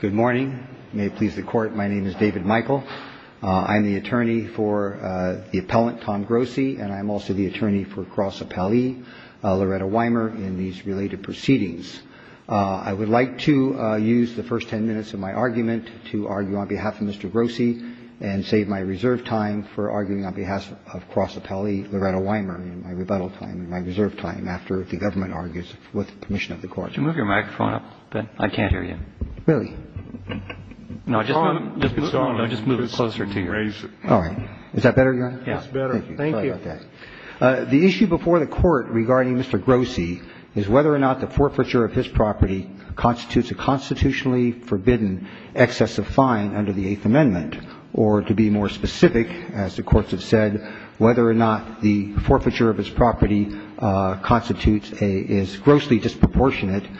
Good morning. May it please the Court, my name is David Michael. I'm the attorney for the appellant, Tom Grossi, and I'm also the attorney for cross-appellee Loretta Wymer in these related proceedings. I would like to use the first ten minutes of my argument to argue on behalf of Mr. Grossi and save my reserve time for arguing on behalf of cross-appellee Loretta Wymer in my rebuttal time, in my reserve time, after the government argues with the permission of the Court. The issue before the Court regarding Mr. Grossi is whether or not the forfeiture of his property constitutes a constitutionally forbidden excess of fine under the Eighth Amendment, or to be more specific, as the courts have said, whether or not the forfeiture of his property constitutes a grossly disproportionate excess of fine under the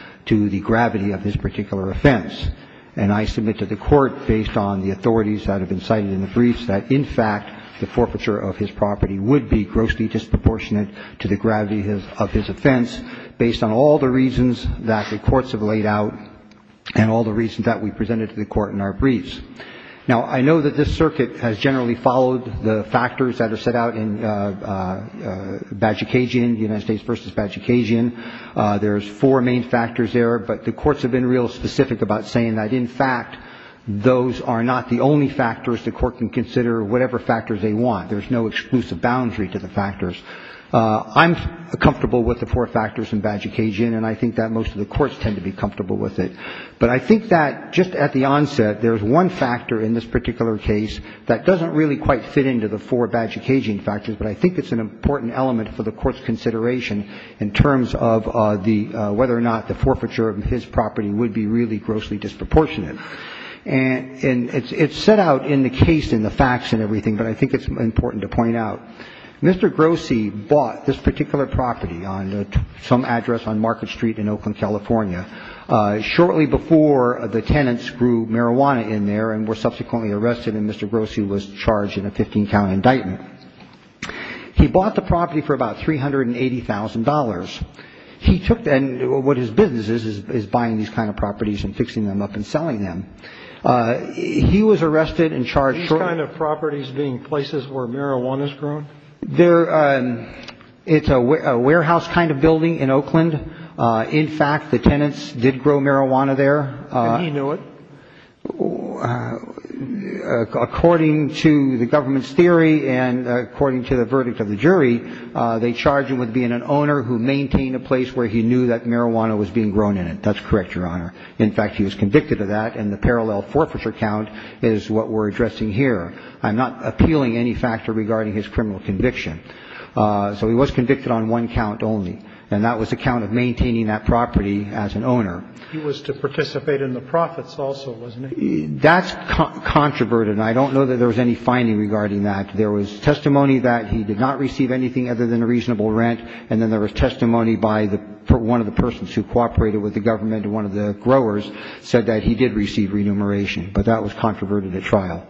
Eighth Amendment. And I submit to the Court, based on the authorities that have been cited in the briefs, that, in fact, the forfeiture of his property would be grossly disproportionate to the gravity of his offense, based on all the reasons that the courts have laid out and all the reasons that we presented to the Court in our briefs. Now, I know that this circuit has generally followed the factors that are set out in Bajikasian, United States v. Bajikasian. There's four main factors there, but the courts have been real specific about saying that, in fact, those are not the only factors the Court can consider, whatever factors they want. There's no exclusive boundary to the factors. I'm comfortable with the four factors in Bajikasian, and I think that most of the courts tend to be comfortable with it. But I think that, just at the onset, there's one factor in this particular case that doesn't really quite fit into the four Bajikasian factors, but I think it's an important element for the Court's consideration in terms of whether or not the forfeiture of his property would be really grossly disproportionate. And it's set out in the case and the facts and everything, but I think it's important to point out. Mr. Grossi bought this particular property on some address on Market Street in Oakland, California, shortly before the tenants threw marijuana in there and were subsequently arrested, and Mr. Grossi was charged in a 15-count indictment. He bought the property for about $380,000. He took that, and what his business is, is buying these kind of properties and fixing them up and selling them. He was arrested and charged shortly. These kind of properties being places where marijuana is grown? It's a warehouse kind of building in Oakland. In fact, the tenants did grow marijuana there. And he knew it? According to the government's theory and according to the verdict of the jury, they charged him with being an owner who maintained a place where he knew that marijuana was being grown in it. That's correct, Your Honor. In fact, he was convicted of that, and the parallel forfeiture count is what we're addressing here. I'm not appealing any factor regarding his criminal conviction. So he was convicted on one count only, and that was the count of maintaining that property as an owner. He was to participate in the profits also, wasn't he? That's controverted, and I don't know that there was any finding regarding that. There was testimony that he did not receive anything other than a reasonable rent, and then there was testimony by one of the persons who cooperated with the government and one of the growers said that he did receive remuneration. But that was controverted at trial.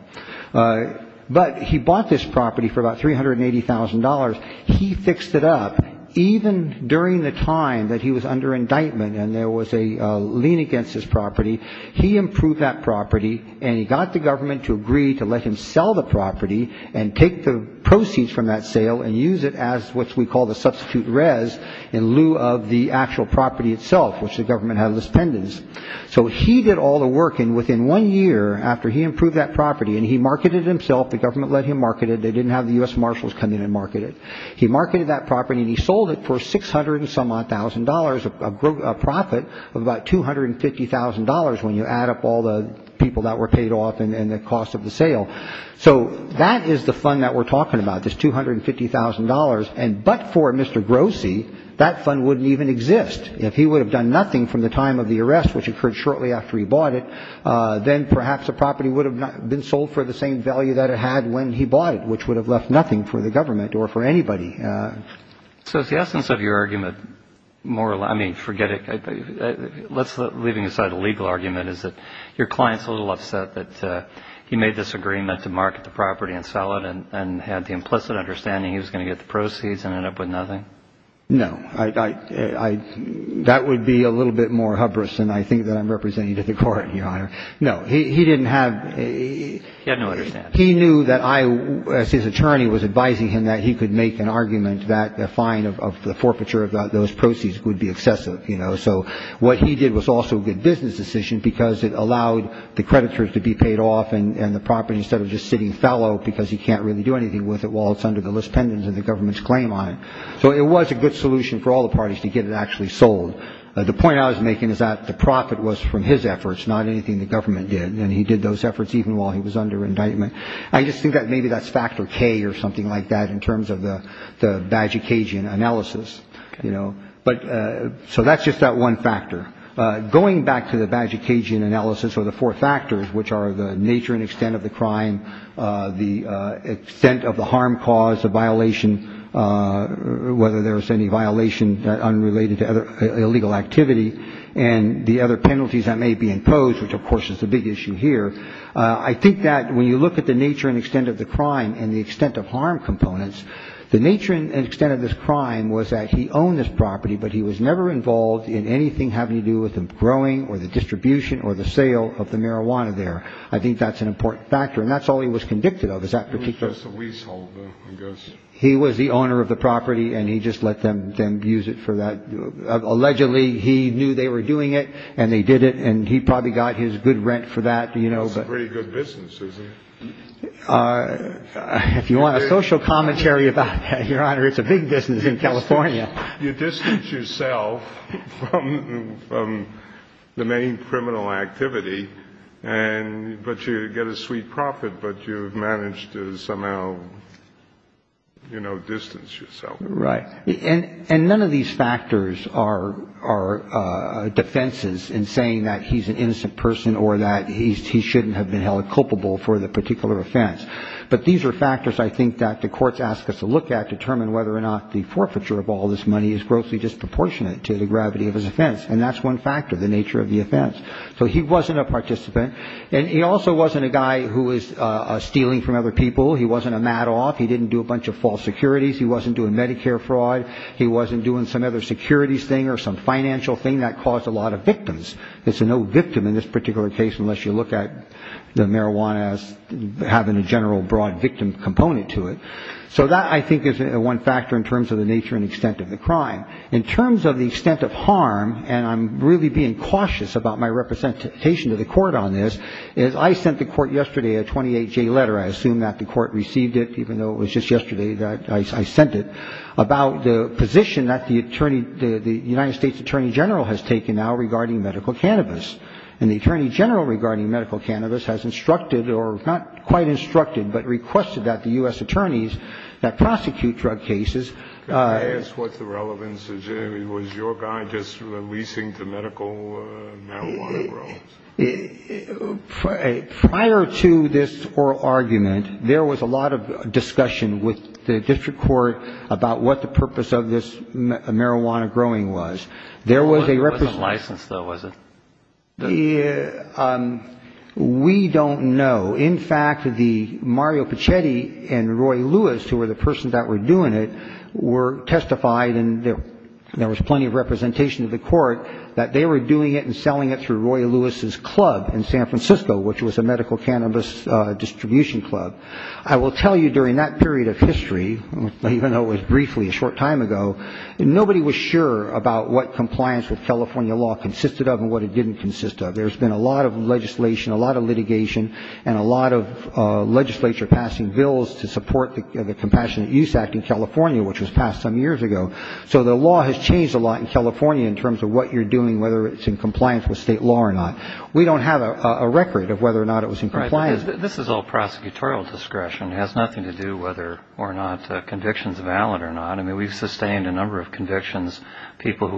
But he bought this property for about $380,000. He fixed it up. And even during the time that he was under indictment and there was a lien against his property, he improved that property, and he got the government to agree to let him sell the property and take the proceeds from that sale and use it as what we call the substitute res in lieu of the actual property itself, which the government had as pendants. So he did all the work, and within one year after he improved that property and he marketed it himself, the government let him market it. They didn't have the U.S. Marshals come in and market it. He marketed that property, and he sold it for $600,000-some-odd, a profit of about $250,000 when you add up all the people that were paid off and the cost of the sale. So that is the fund that we're talking about, this $250,000. And but for Mr. Grossi, that fund wouldn't even exist. If he would have done nothing from the time of the arrest, which occurred shortly after he bought it, then perhaps the property would have been sold for the same value that it had when he bought it, which would have left nothing for the government or for anybody. So is the essence of your argument more – I mean, forget it. Let's – leaving aside a legal argument, is that your client's a little upset that he made this agreement to market the property and sell it and had the implicit understanding he was going to get the proceeds and end up with nothing? No. I – that would be a little bit more hubris than I think that I'm representing to the Court, Your Honor. No. He didn't have – He had no understanding. He knew that I, as his attorney, was advising him that he could make an argument that a fine of the forfeiture of those proceeds would be excessive, you know. So what he did was also a good business decision because it allowed the creditors to be paid off and the property, instead of just sitting fallow because he can't really do anything with it while it's under the list pendants of the government's claim on it. So it was a good solution for all the parties to get it actually sold. The point I was making is that the profit was from his efforts, not anything the government did. And he did those efforts even while he was under indictment. I just think that maybe that's factor K or something like that in terms of the Bagicagian analysis, you know. But – so that's just that one factor. Going back to the Bagicagian analysis or the four factors, which are the nature and extent of the crime, the extent of the harm caused, the violation, whether there was any violation unrelated to illegal activity, and the other penalties that may be imposed, which, of course, is the big issue here, I think that when you look at the nature and extent of the crime and the extent of harm components, the nature and extent of this crime was that he owned this property, but he was never involved in anything having to do with the growing or the distribution or the sale of the marijuana there. I think that's an important factor. And that's all he was convicted of is that particular – He was just a leaseholder, I guess. He was the owner of the property, and he just let them use it for that. Allegedly, he knew they were doing it, and they did it, and he probably got his good rent for that. That's a pretty good business, isn't it? If you want a social commentary about that, Your Honor, it's a big business in California. You distance yourself from the main criminal activity, and – but you get a sweet profit, but you've managed to somehow, you know, distance yourself. And none of these factors are defenses in saying that he's an innocent person or that he shouldn't have been held culpable for the particular offense. But these are factors, I think, that the courts ask us to look at to determine whether or not the forfeiture of all this money is grossly disproportionate to the gravity of his offense. And that's one factor, the nature of the offense. So he wasn't a participant, and he also wasn't a guy who was stealing from other people. He wasn't a madoff. He didn't do a bunch of false securities. He wasn't doing Medicare fraud. He wasn't doing some other securities thing or some financial thing that caused a lot of victims. There's no victim in this particular case unless you look at the marijuana as having a general broad victim component to it. So that, I think, is one factor in terms of the nature and extent of the crime. In terms of the extent of harm, and I'm really being cautious about my representation to the court on this, is I sent the court yesterday a 28-J letter. I assume that the court received it, even though it was just yesterday that I sent it, about the position that the United States Attorney General has taken now regarding medical cannabis. And the Attorney General regarding medical cannabis has instructed, or not quite instructed, but requested that the U.S. attorneys that prosecute drug cases ---- Can I ask what the relevance is? Was your guy just releasing the medical marijuana drugs? Prior to this oral argument, there was a lot of discussion with the district court about what the purpose of this marijuana growing was. There was a ---- It wasn't licensed, though, was it? We don't know. In fact, the Mario Pacetti and Roy Lewis, who were the persons that were doing it, were testified, and there was plenty of representation to the court that they were doing it and selling it through Roy Lewis' club in San Francisco, which was a medical cannabis distribution club. I will tell you, during that period of history, even though it was briefly a short time ago, nobody was sure about what compliance with California law consisted of and what it didn't consist of. There's been a lot of legislation, a lot of litigation, and a lot of legislature passing bills to support the Compassionate Use Act in California, which was passed some years ago. So the law has changed a lot in California in terms of what you're doing, whether it's in compliance with state law or not. We don't have a record of whether or not it was in compliance. Right. This is all prosecutorial discretion. It has nothing to do whether or not a conviction is valid or not. I mean, we've sustained a number of convictions, people who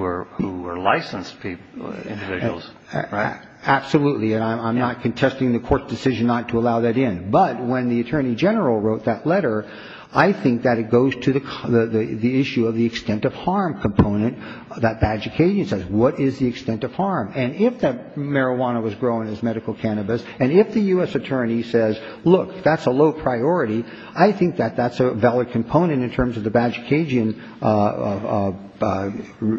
were licensed individuals, right? Absolutely. And I'm not contesting the court's decision not to allow that in. But when the attorney general wrote that letter, I think that it goes to the issue of the extent of harm component that Badge of Cajun says. What is the extent of harm? And if that marijuana was grown as medical cannabis, and if the U.S. attorney says, look, that's a low priority, I think that that's a valid component in terms of the Badge of Cajun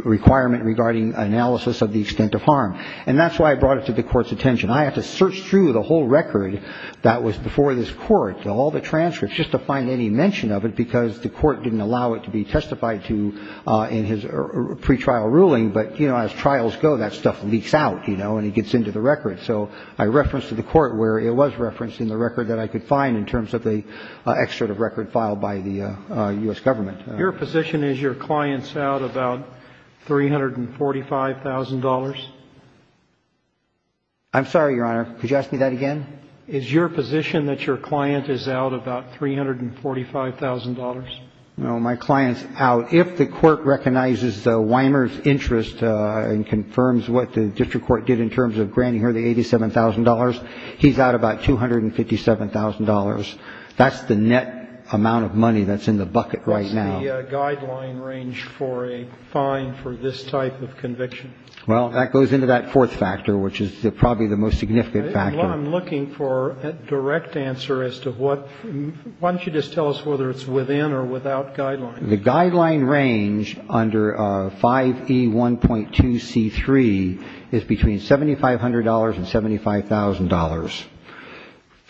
requirement regarding analysis of the extent of harm. And that's why I brought it to the court's attention. I had to search through the whole record that was before this court, all the transcripts, just to find any mention of it because the court didn't allow it to be testified to in his pretrial ruling. But, you know, as trials go, that stuff leaks out, you know, and it gets into the record. So I referenced to the court where it was referenced in the record that I could find in terms of the excerpt of record filed by the U.S. government. Your position is your client's out about $345,000? I'm sorry, Your Honor. Could you ask me that again? Is your position that your client is out about $345,000? No. My client's out. If the court recognizes Weimer's interest and confirms what the district court did in terms of granting her the $87,000, he's out about $257,000. That's the net amount of money that's in the bucket right now. What is the guideline range for a fine for this type of conviction? Well, that goes into that fourth factor, which is probably the most significant factor. I'm looking for a direct answer as to what — why don't you just tell us whether it's within or without guidelines? The guideline range under 5E1.2c3 is between $7,500 and $75,000.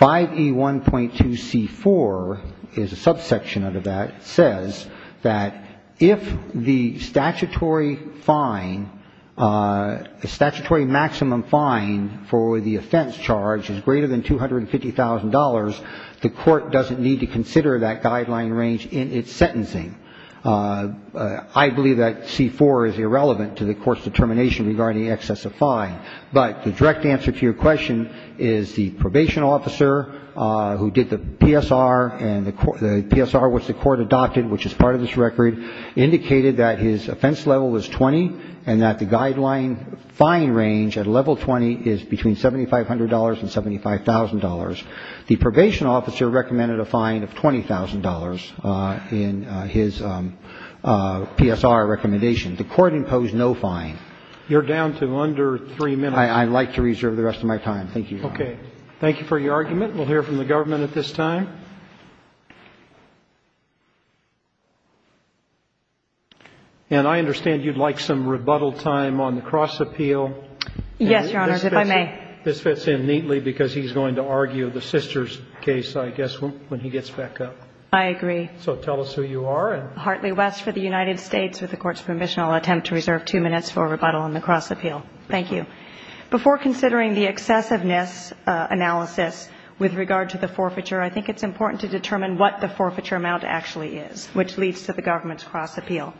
5E1.2c4 is a subsection under that. It says that if the statutory fine, the statutory maximum fine for the offense charge is greater than $250,000, the court doesn't need to consider that guideline range in its sentencing. I believe that c4 is irrelevant to the court's determination regarding excess of fine. But the direct answer to your question is the probation officer who did the PSR and the PSR which the court adopted, which is part of this record, indicated that his offense level was 20 and that the guideline fine range at level 20 is between $7,500 and $75,000. The probation officer recommended a fine of $20,000 in his PSR recommendation. The court imposed no fine. You're down to under three minutes. I'd like to reserve the rest of my time. Thank you, Your Honor. Okay. Thank you for your argument. We'll hear from the government at this time. And I understand you'd like some rebuttal time on the cross-appeal. Yes, Your Honor, if I may. This fits in neatly because he's going to argue the sister's case, I guess, when he gets back up. I agree. So tell us who you are. I'm Hartley West for the United States. With the Court's permission, I'll attempt to reserve two minutes for rebuttal on the cross-appeal. Thank you. Before considering the excessiveness analysis with regard to the forfeiture, I think it's important to determine what the forfeiture amount actually is, which leads to the government's cross-appeal.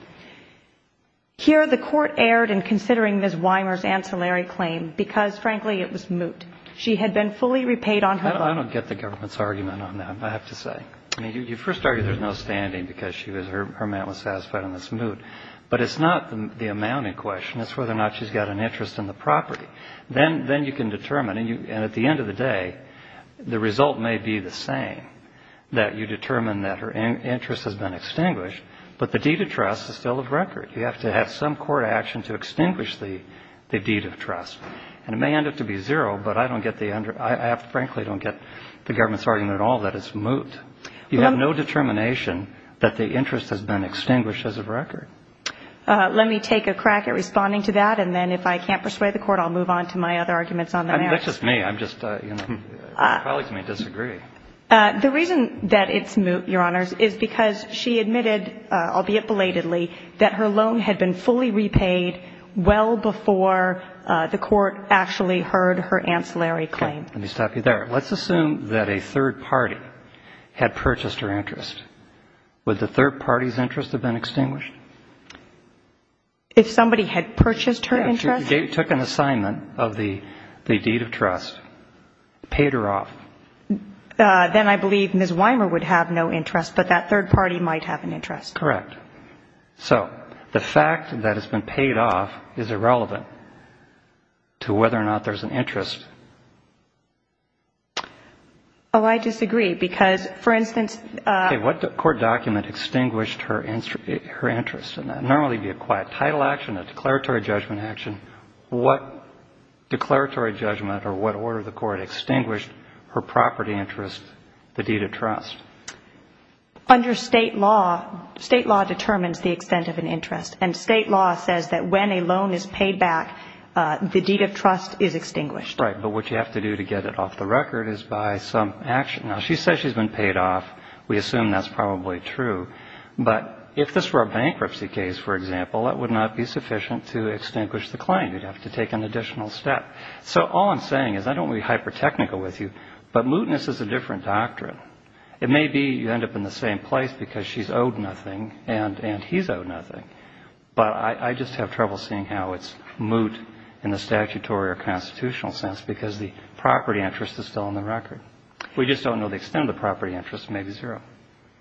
Here the Court erred in considering Ms. Wymer's ancillary claim because, frankly, it was moot. She had been fully repaid on her loan. I don't get the government's argument on that, I have to say. I mean, you first argue there's no standing because her amount was satisfied and it's moot. But it's not the amount in question, it's whether or not she's got an interest in the property. Then you can determine. And at the end of the day, the result may be the same, that you determine that her interest has been extinguished, but the deed of trust is still of record. You have to have some court action to extinguish the deed of trust. And it may end up to be zero, but I frankly don't get the government's argument at all that it's moot. You have no determination that the interest has been extinguished as of record. Let me take a crack at responding to that, and then if I can't persuade the Court, I'll move on to my other arguments on the matter. That's just me. I'm just, you know, colleagues may disagree. The reason that it's moot, Your Honors, is because she admitted, albeit belatedly, that her loan had been fully repaid well before the Court actually heard her ancillary claim. Okay. Let me stop you there. Let's assume that a third party had purchased her interest. Would the third party's interest have been extinguished? If somebody had purchased her interest? Yeah, if she took an assignment of the deed of trust, paid her off. Then I believe Ms. Weimer would have no interest, but that third party might have an interest. Correct. So the fact that it's been paid off is irrelevant to whether or not there's an interest. Oh, I disagree, because, for instance — Okay, what court document extinguished her interest? Normally it would be a quiet title action, a declaratory judgment action. What declaratory judgment or what order of the Court extinguished her property interest, the deed of trust? Under state law, state law determines the extent of an interest, and state law says that when a loan is paid back, the deed of trust is extinguished. Right, but what you have to do to get it off the record is buy some action. Now, she says she's been paid off. We assume that's probably true, but if this were a bankruptcy case, for example, that would not be sufficient to extinguish the claim. You'd have to take an additional step. So all I'm saying is I don't want to be hyper-technical with you, but mootness is a different doctrine. It may be you end up in the same place because she's owed nothing and he's owed nothing, but I just have trouble seeing how it's moot in the statutory or constitutional sense because the property interest is still on the record. We just don't know the extent of the property interest. It may be zero.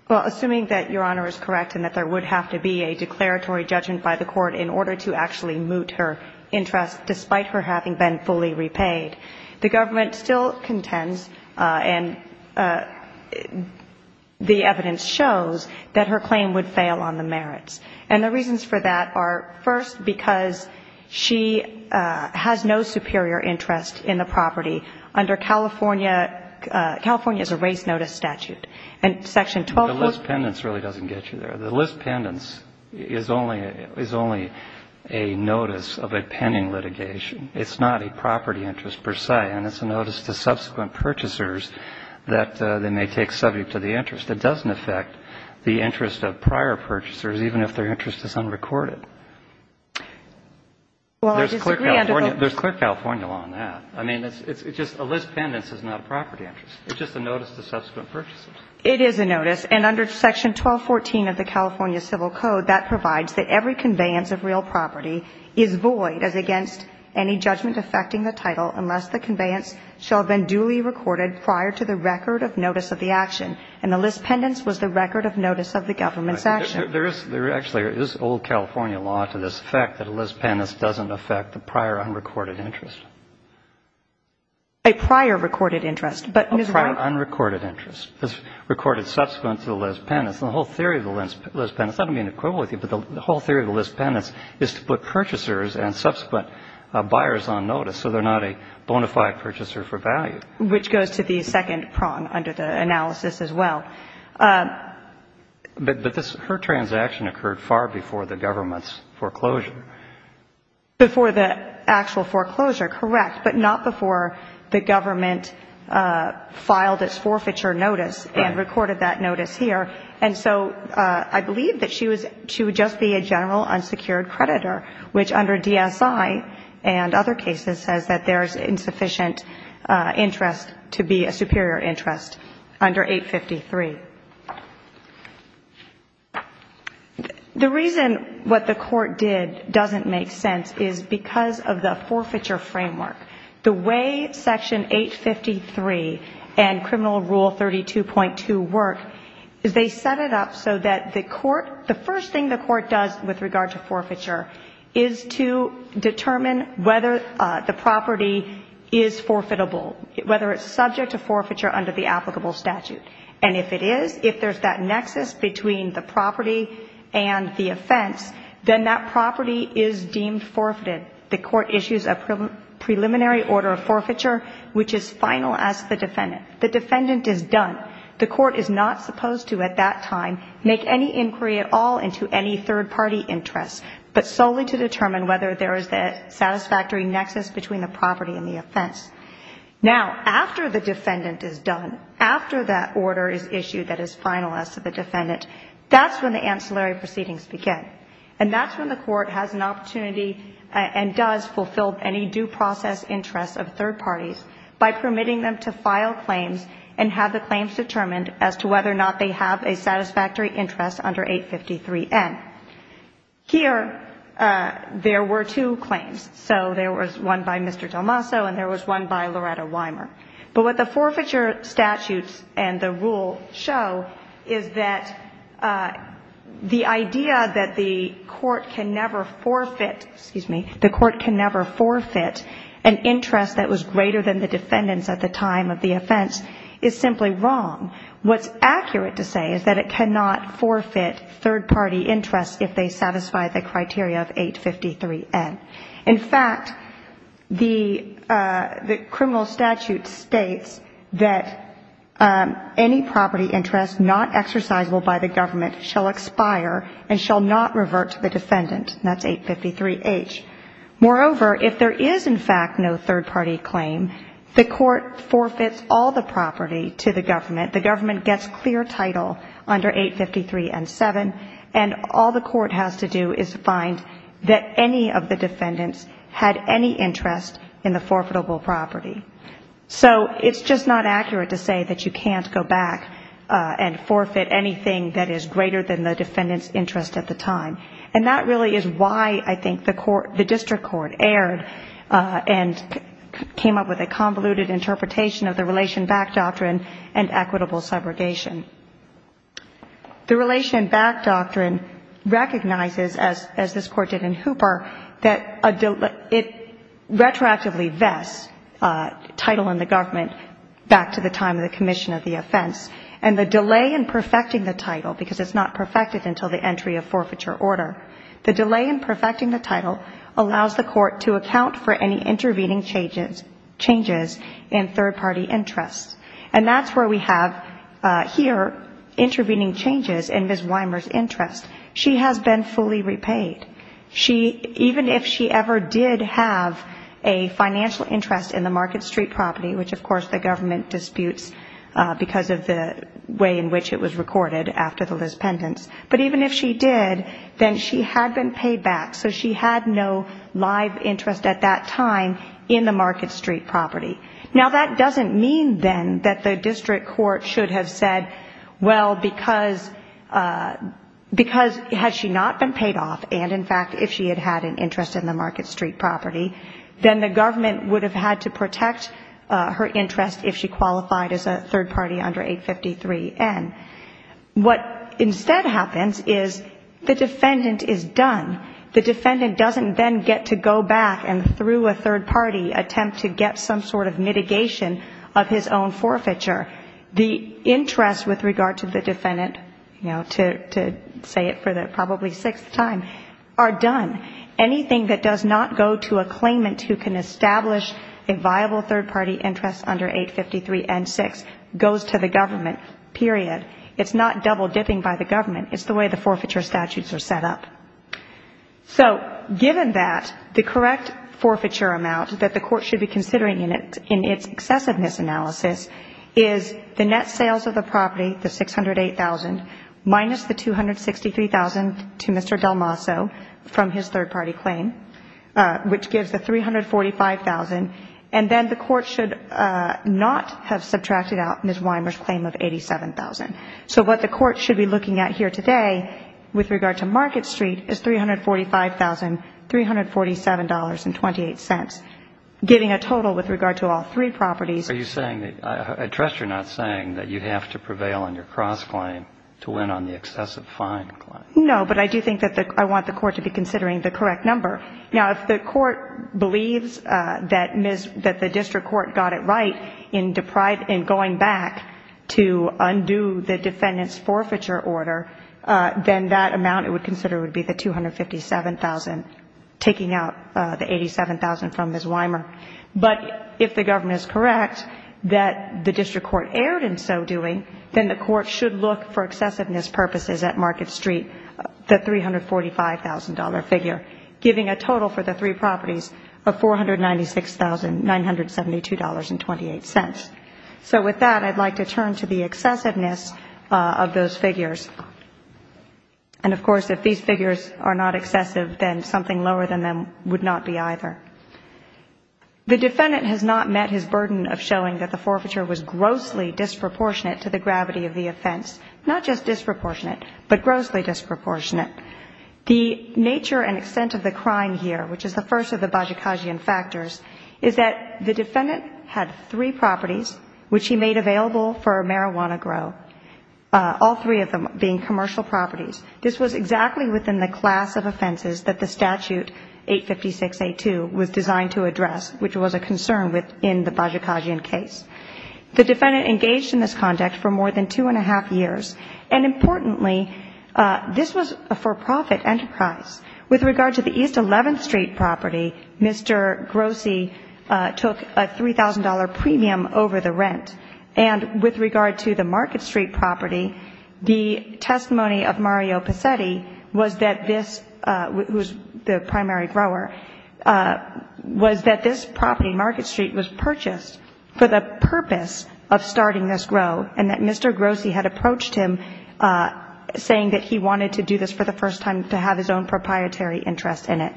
Well, assuming that Your Honor is correct and that there would have to be a declaratory judgment by the Court in order to actually moot her interest despite her having been fully repaid, the government still contends and the evidence shows that her claim would fail on the merits. And the reasons for that are, first, because she has no superior interest in the property under California. California is a race notice statute. And Section 12.4. The list pendants really doesn't get you there. The list pendants is only a notice of a pending litigation. It's not a property interest per se, and it's a notice to subsequent purchasers that they may take subject to the interest. It doesn't affect the interest of prior purchasers, even if their interest is unrecorded. There's clear California law on that. I mean, it's just a list pendants is not a property interest. It's just a notice to subsequent purchasers. It is a notice. And under Section 12.14 of the California Civil Code, that provides that every conveyance of real property is void as against any judgment affecting the title unless the conveyance shall have been duly recorded prior to the record of notice of the action. And the list pendants was the record of notice of the government's action. There is – there actually is old California law to this effect that a list pendants doesn't affect the prior unrecorded interest. A prior recorded interest, but, Ms. Wright. A prior unrecorded interest. It's recorded subsequent to the list pendants. And the whole theory of the list pendants – I don't mean to quibble with you, but the whole theory of the list pendants is to put purchasers and subsequent buyers on notice so they're not a bona fide purchaser for value. Which goes to the second prong under the analysis as well. But this – her transaction occurred far before the government's foreclosure. Before the actual foreclosure, correct, but not before the government filed its forfeiture notice and recorded that notice here. And so I believe that she was – she would just be a general unsecured creditor, which under DSI and other cases says that there's insufficient interest to be a superior interest under 853. The reason what the court did doesn't make sense is because of the forfeiture framework. The way Section 853 and Criminal Rule 32.2 work is they set it up so that the court – the first thing the court does with regard to forfeiture is to determine whether the property is forfeitable. Whether it's subject to forfeiture under the applicable statute. And if it is, if there's that nexus between the property and the offense, then that property is deemed forfeited. The court issues a preliminary order of forfeiture, which is final as to the defendant. The defendant is done. The court is not supposed to at that time make any inquiry at all into any third party interest, but solely to determine whether there is a satisfactory nexus between the property and the offense. Now, after the defendant is done, after that order is issued that is final as to the defendant, that's when the ancillary proceedings begin. And that's when the court has an opportunity and does fulfill any due process interest of third parties by permitting them to file claims and have the claims determined as to whether or not they have a satisfactory interest under 853N. Here, there were two claims. So there was one by Mr. Delmasso and there was one by Loretta Wymer. But what the forfeiture statutes and the rule show is that the idea that the court can never forfeit, excuse me, the court can never forfeit an interest that was greater than the defendant's at the time of the offense is simply wrong. What's accurate to say is that it cannot forfeit third party interest if they satisfy the criteria of 853N. In fact, the criminal statute states that any property interest not exercisable by the government shall expire and shall not revert to the defendant. That's 853H. Moreover, if there is, in fact, no third party claim, the court forfeits all the property to the government. The government gets clear title under 853N7, and all the court has to do is find that any of the defendants had any interest in the forfeitable property. So it's just not accurate to say that you can't go back and forfeit anything that is greater than the defendant's interest at the time. And that really is why I think the district court erred and came up with a convoluted interpretation of the relation back doctrine and equitable segregation. The relation back doctrine recognizes, as this court did in Hooper, that it retroactively vests title in the government back to the time of the commission of the offense. And the delay in perfecting the title, because it's not perfected until the entry of forfeiture order, the delay in perfecting the title allows the court to account for any intervening changes in third party interest. And that's where we have here intervening changes in Ms. Weimer's interest. She has been fully repaid. Even if she ever did have a financial interest in the Market Street property, which, of course, the government disputes because of the way in which it was recorded after the Liz Pendence, but even if she did, then she had been paid back. So she had no live interest at that time in the Market Street property. Now, that doesn't mean, then, that the district court should have said, well, because had she not been paid off and, in fact, if she had had an interest in the Market Street property, then the government would have had to protect her interest if she qualified as a third party under 853N. What instead happens is the defendant is done. The defendant doesn't then get to go back and, through a third party, attempt to get some sort of mitigation of his own forfeiture. The interest with regard to the defendant, you know, to say it for the probably sixth time, are done. Anything that does not go to a claimant who can establish a viable third party interest under 853N6 goes to the government, period. It's not double dipping by the government. It's the way the forfeiture statutes are set up. So given that, the correct forfeiture amount that the court should be considering in its excessiveness analysis is the net sales of the property, the $608,000, minus the $263,000 to Mr. Delmasso from his third party claim, which gives the $345,000. And then the court should not have subtracted out Ms. Weimer's claim of $87,000. So what the court should be looking at here today with regard to Market Street is $345,000, $347.28, giving a total with regard to all three properties. Are you saying that you have to prevail on your cross-claim to win on the excessive fine claim? No, but I do think that I want the court to be considering the correct number. Now, if the court believes that the district court got it right in going back to undo the defendant's forfeiture order, then that amount it would consider would be the $257,000, taking out the $87,000 from Ms. Weimer. But if the government is correct that the district court erred in so doing, then the court should look for excessiveness purposes at Market Street, the $345,000 figure, giving a total for the three properties of $496,972.28. So with that, I'd like to turn to the excessiveness of those figures. And, of course, if these figures are not excessive, then something lower than them would not be either. The defendant has not met his burden of showing that the forfeiture was grossly disproportionate to the gravity of the offense. Not just disproportionate, but grossly disproportionate. The nature and extent of the crime here, which is the first of the Bajikasian factors, is that the defendant had three properties which he made available for marijuana grow, all three of them being commercial properties. This was exactly within the class of offenses that the statute 856.82 was designed to address, which was a concern within the Bajikasian case. The defendant engaged in this conduct for more than two and a half years. And, importantly, this was a for-profit enterprise. With regard to the East 11th Street property, Mr. Grossi took a $3,000 premium over the rent. And with regard to the Market Street property, the testimony of Mario Pacetti was that this, who is the primary grower, was that this property, Market Street, was purchased for the purpose of starting this grow and that Mr. Grossi had approached him saying that he wanted to do this for the first time to have his own proprietary interest in it.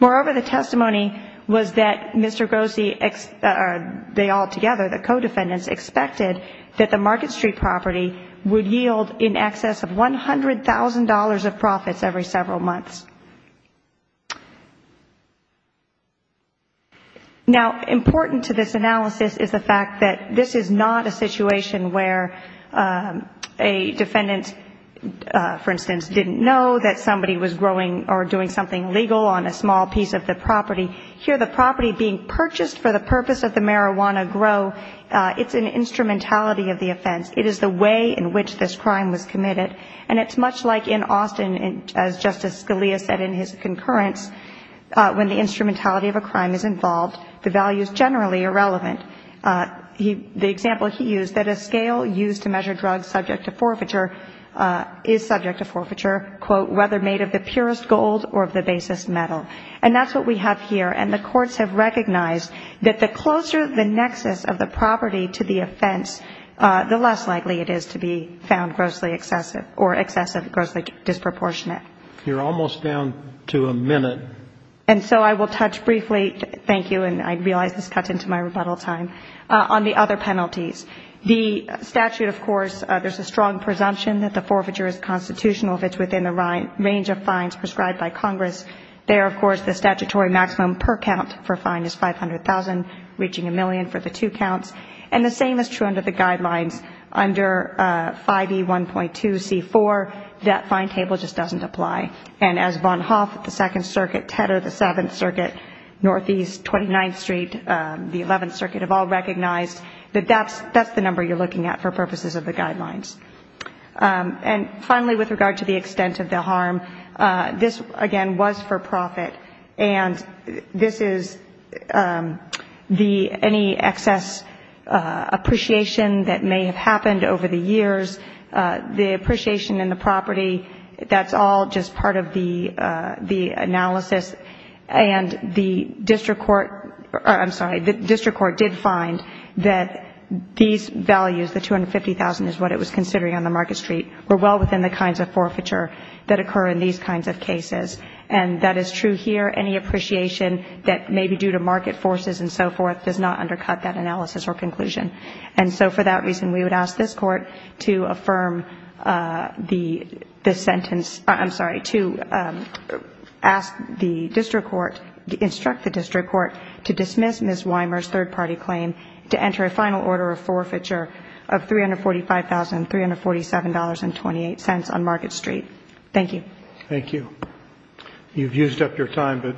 Moreover, the testimony was that Mr. Grossi, they all together, the co-defendants, expected that the Market Street property would yield in excess of $100,000 of profits every several months. Now, important to this analysis is the fact that this is not a situation where a defendant, for instance, didn't know that somebody was growing or doing something legal on a small piece of the property. Here the property being purchased for the purpose of the marijuana grow, it's an instrumentality of the offense. It is the way in which this crime was committed. And it's much like in Austin, as Justice Scalia said in his concurrence, when the instrumentality of a crime is involved, the values generally are relevant. The example he used, that a scale used to measure drugs subject to forfeiture is subject to forfeiture, quote, whether made of the purest gold or of the basest metal. And that's what we have here. And the courts have recognized that the closer the nexus of the property to the offense, the less likely it is to be found grossly excessive or excessive grossly disproportionate. You're almost down to a minute. And so I will touch briefly, thank you, and I realize this cuts into my rebuttal time, on the other penalties. The statute, of course, there's a strong presumption that the forfeiture is constitutional if it's within the range of fines prescribed by Congress. There, of course, the statutory maximum per count for a fine is $500,000, reaching a million for the two counts. And the same is true under the guidelines. Under 5E1.2C4, that fine table just doesn't apply. And as Von Hoff at the Second Circuit, Tedder at the Seventh Circuit, Northeast, 29th Street, the Eleventh Circuit have all recognized that that's the number you're looking at for purposes of the guidelines. And finally, with regard to the extent of the harm, this, again, was for profit. And this is the any excess appreciation that may have happened over the years. The appreciation in the property, that's all just part of the analysis. And the district court, I'm sorry, the district court did find that these values, the $250,000 is what it was considering on the Market Street, were well within the kinds of forfeiture that occur in these kinds of cases. And that is true here. Any appreciation that may be due to market forces and so forth does not undercut that analysis or conclusion. And so for that reason, we would ask this court to affirm the sentence. I'm sorry, to ask the district court, instruct the district court to dismiss Ms. Weimer's third-party claim to enter a final order of forfeiture of $345,347.28 on Market Street. Thank you. Thank you. You've used up your time, but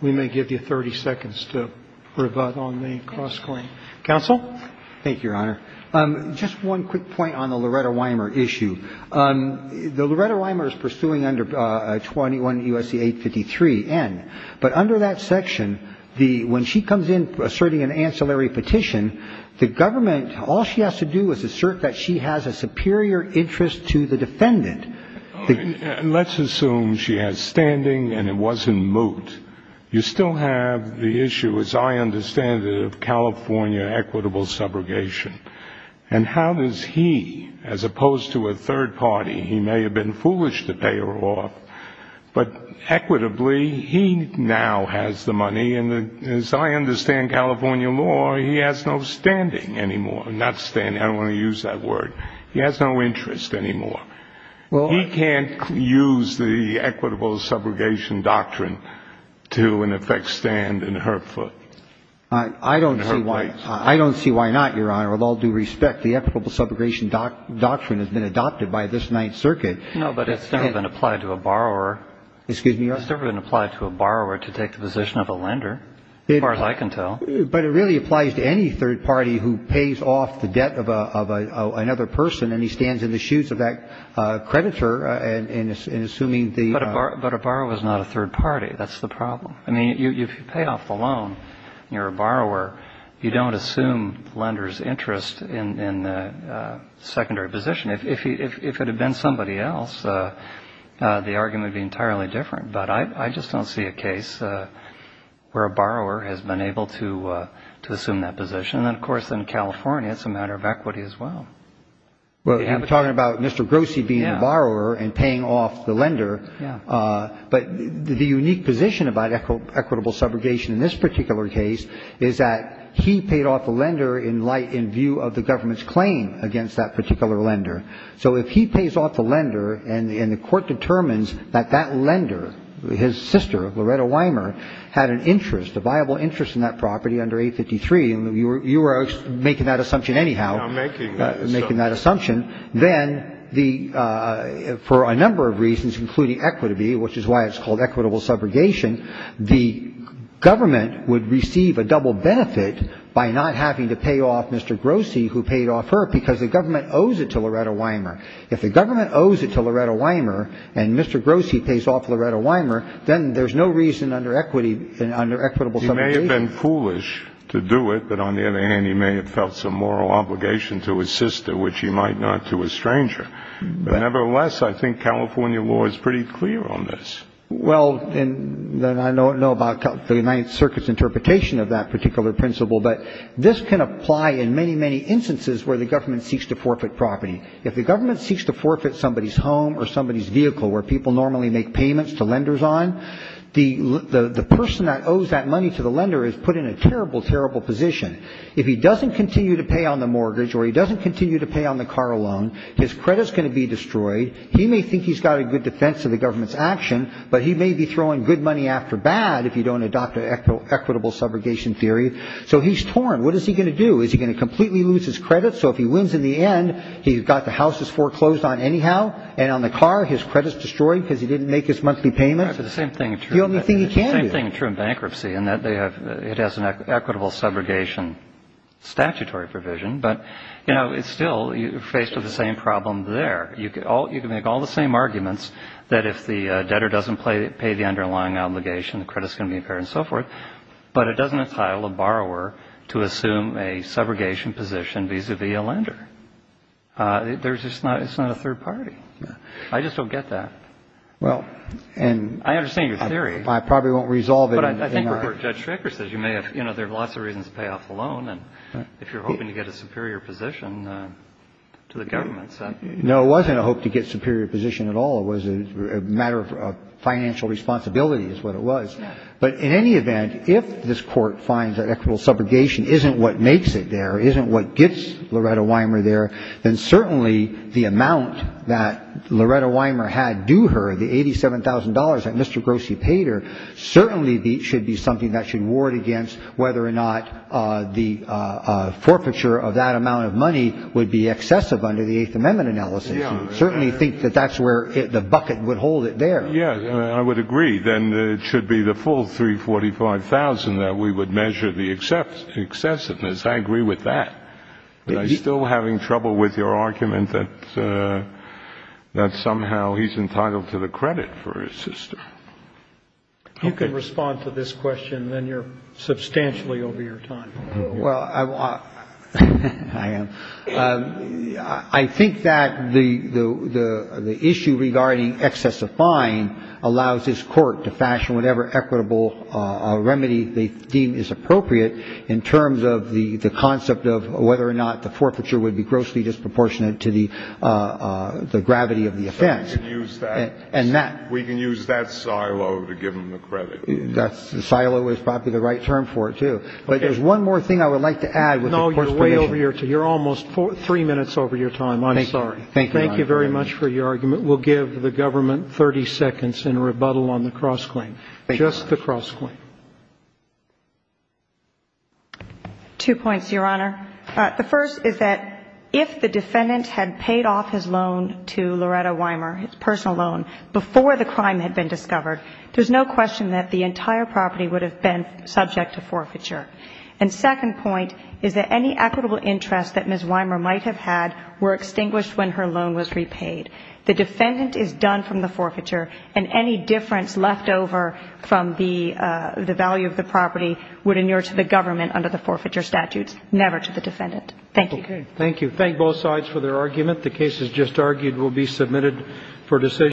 we may give you 30 seconds to rebut on the cross-claim. Thank you, Your Honor. Just one quick point on the Loretta Weimer issue. The Loretta Weimer is pursuing under 21 U.S.C. 853 N. But under that section, when she comes in asserting an ancillary petition, the government, all she has to do is assert that she has a superior interest to the defendant. Let's assume she has standing and it wasn't moot. You still have the issue, as I understand it, of California equitable subrogation. And how does he, as opposed to a third party, he may have been foolish to pay her off, but equitably he now has the money. And as I understand California law, he has no standing anymore. Not standing. I don't want to use that word. He has no interest anymore. He can't use the equitable subrogation doctrine to, in effect, stand in her foot. In her place. I don't see why not, Your Honor. With all due respect, the equitable subrogation doctrine has been adopted by this Ninth Circuit. No, but it's never been applied to a borrower. Excuse me, Your Honor? It's never been applied to a borrower to take the position of a lender, as far as I can tell. But it really applies to any third party who pays off the debt of another person and he stands in the shoes of that creditor in assuming the ---- But a borrower is not a third party. That's the problem. I mean, if you pay off the loan and you're a borrower, you don't assume the lender's interest in the secondary position. If it had been somebody else, the argument would be entirely different. But I just don't see a case where a borrower has been able to assume that position. And, of course, in California, it's a matter of equity as well. You're talking about Mr. Grossi being a borrower and paying off the lender. But the unique position about equitable subrogation in this particular case is that he paid off the lender in light in view of the government's claim against that particular lender. So if he pays off the lender and the court determines that that lender, his sister, Loretta Weimer, had an interest, a viable interest in that property under 853, and you are making that assumption anyhow. I'm making that assumption. Making that assumption. Then for a number of reasons, including equity, which is why it's called equitable subrogation, the government would receive a double benefit by not having to pay off off her because the government owes it to Loretta Weimer. If the government owes it to Loretta Weimer and Mr. Grossi pays off Loretta Weimer, then there's no reason under equitable subrogation. He may have been foolish to do it, but on the other hand, he may have felt some moral obligation to his sister, which he might not to a stranger. Nevertheless, I think California law is pretty clear on this. Well, and then I don't know about the United Circuits interpretation of that particular principle, but this can apply in many, many instances where the government seeks to forfeit property. If the government seeks to forfeit somebody's home or somebody's vehicle where people normally make payments to lenders on, the person that owes that money to the lender is put in a terrible, terrible position. If he doesn't continue to pay on the mortgage or he doesn't continue to pay on the car loan, his credit is going to be destroyed. He may think he's got a good defense of the government's action, but he may be throwing good money after bad if you don't adopt an equitable subrogation theory. So he's torn. What is he going to do? Is he going to completely lose his credit? So if he wins in the end, he's got the house he's foreclosed on anyhow, and on the car his credit is destroyed because he didn't make his monthly payments? The only thing he can do. It's the same thing true in bankruptcy in that it has an equitable subrogation statutory provision, but, you know, it's still faced with the same problem there. You can make all the same arguments that if the debtor doesn't pay the underlying obligation, the credit is going to be impaired and so forth, but it doesn't entitle a borrower to assume a subrogation position vis-à-vis a lender. It's not a third party. I just don't get that. I understand your theory. I probably won't resolve it. But I think what Judge Schreker says, you know, there are lots of reasons to pay off the loan, and if you're hoping to get a superior position to the government, so. No, it wasn't a hope to get superior position at all. It was a matter of financial responsibility is what it was. But in any event, if this Court finds that equitable subrogation isn't what makes it there, isn't what gets Loretta Wimer there, then certainly the amount that Loretta Wimer had due her, the $87,000 that Mr. Grossi paid her, certainly should be something that should ward against whether or not the forfeiture of that amount of money would be excessive under the Eighth Amendment analysis. I certainly think that that's where the bucket would hold it there. Yes, I would agree. Then it should be the full $345,000 that we would measure the excessiveness. I agree with that. But I'm still having trouble with your argument that somehow he's entitled to the credit for his sister. You can respond to this question, then you're substantially over your time. Well, I am. I think that the issue regarding excess of fine allows this Court to fashion whatever equitable remedy they deem is appropriate in terms of the concept of whether or not the forfeiture would be grossly disproportionate to the gravity of the offense. We can use that silo to give him the credit. The silo is probably the right term for it, too. But there's one more thing I would like to add with the Court's permission. No, you're way over your time. You're almost three minutes over your time. I'm sorry. Thank you. Thank you very much for your argument. We'll give the government 30 seconds in rebuttal on the cross-claim. Thank you. Just the cross-claim. Two points, Your Honor. The first is that if the defendant had paid off his loan to Loretta Weimer, his personal loan, before the crime had been discovered, there's no question that the entire And second point is that any equitable interest that Ms. Weimer might have had were extinguished when her loan was repaid. The defendant is done from the forfeiture, and any difference left over from the value of the property would inure to the government under the forfeiture statutes, never to the defendant. Thank you. Okay. Thank you. Thank both sides for their argument. The cases just argued will be submitted for decision.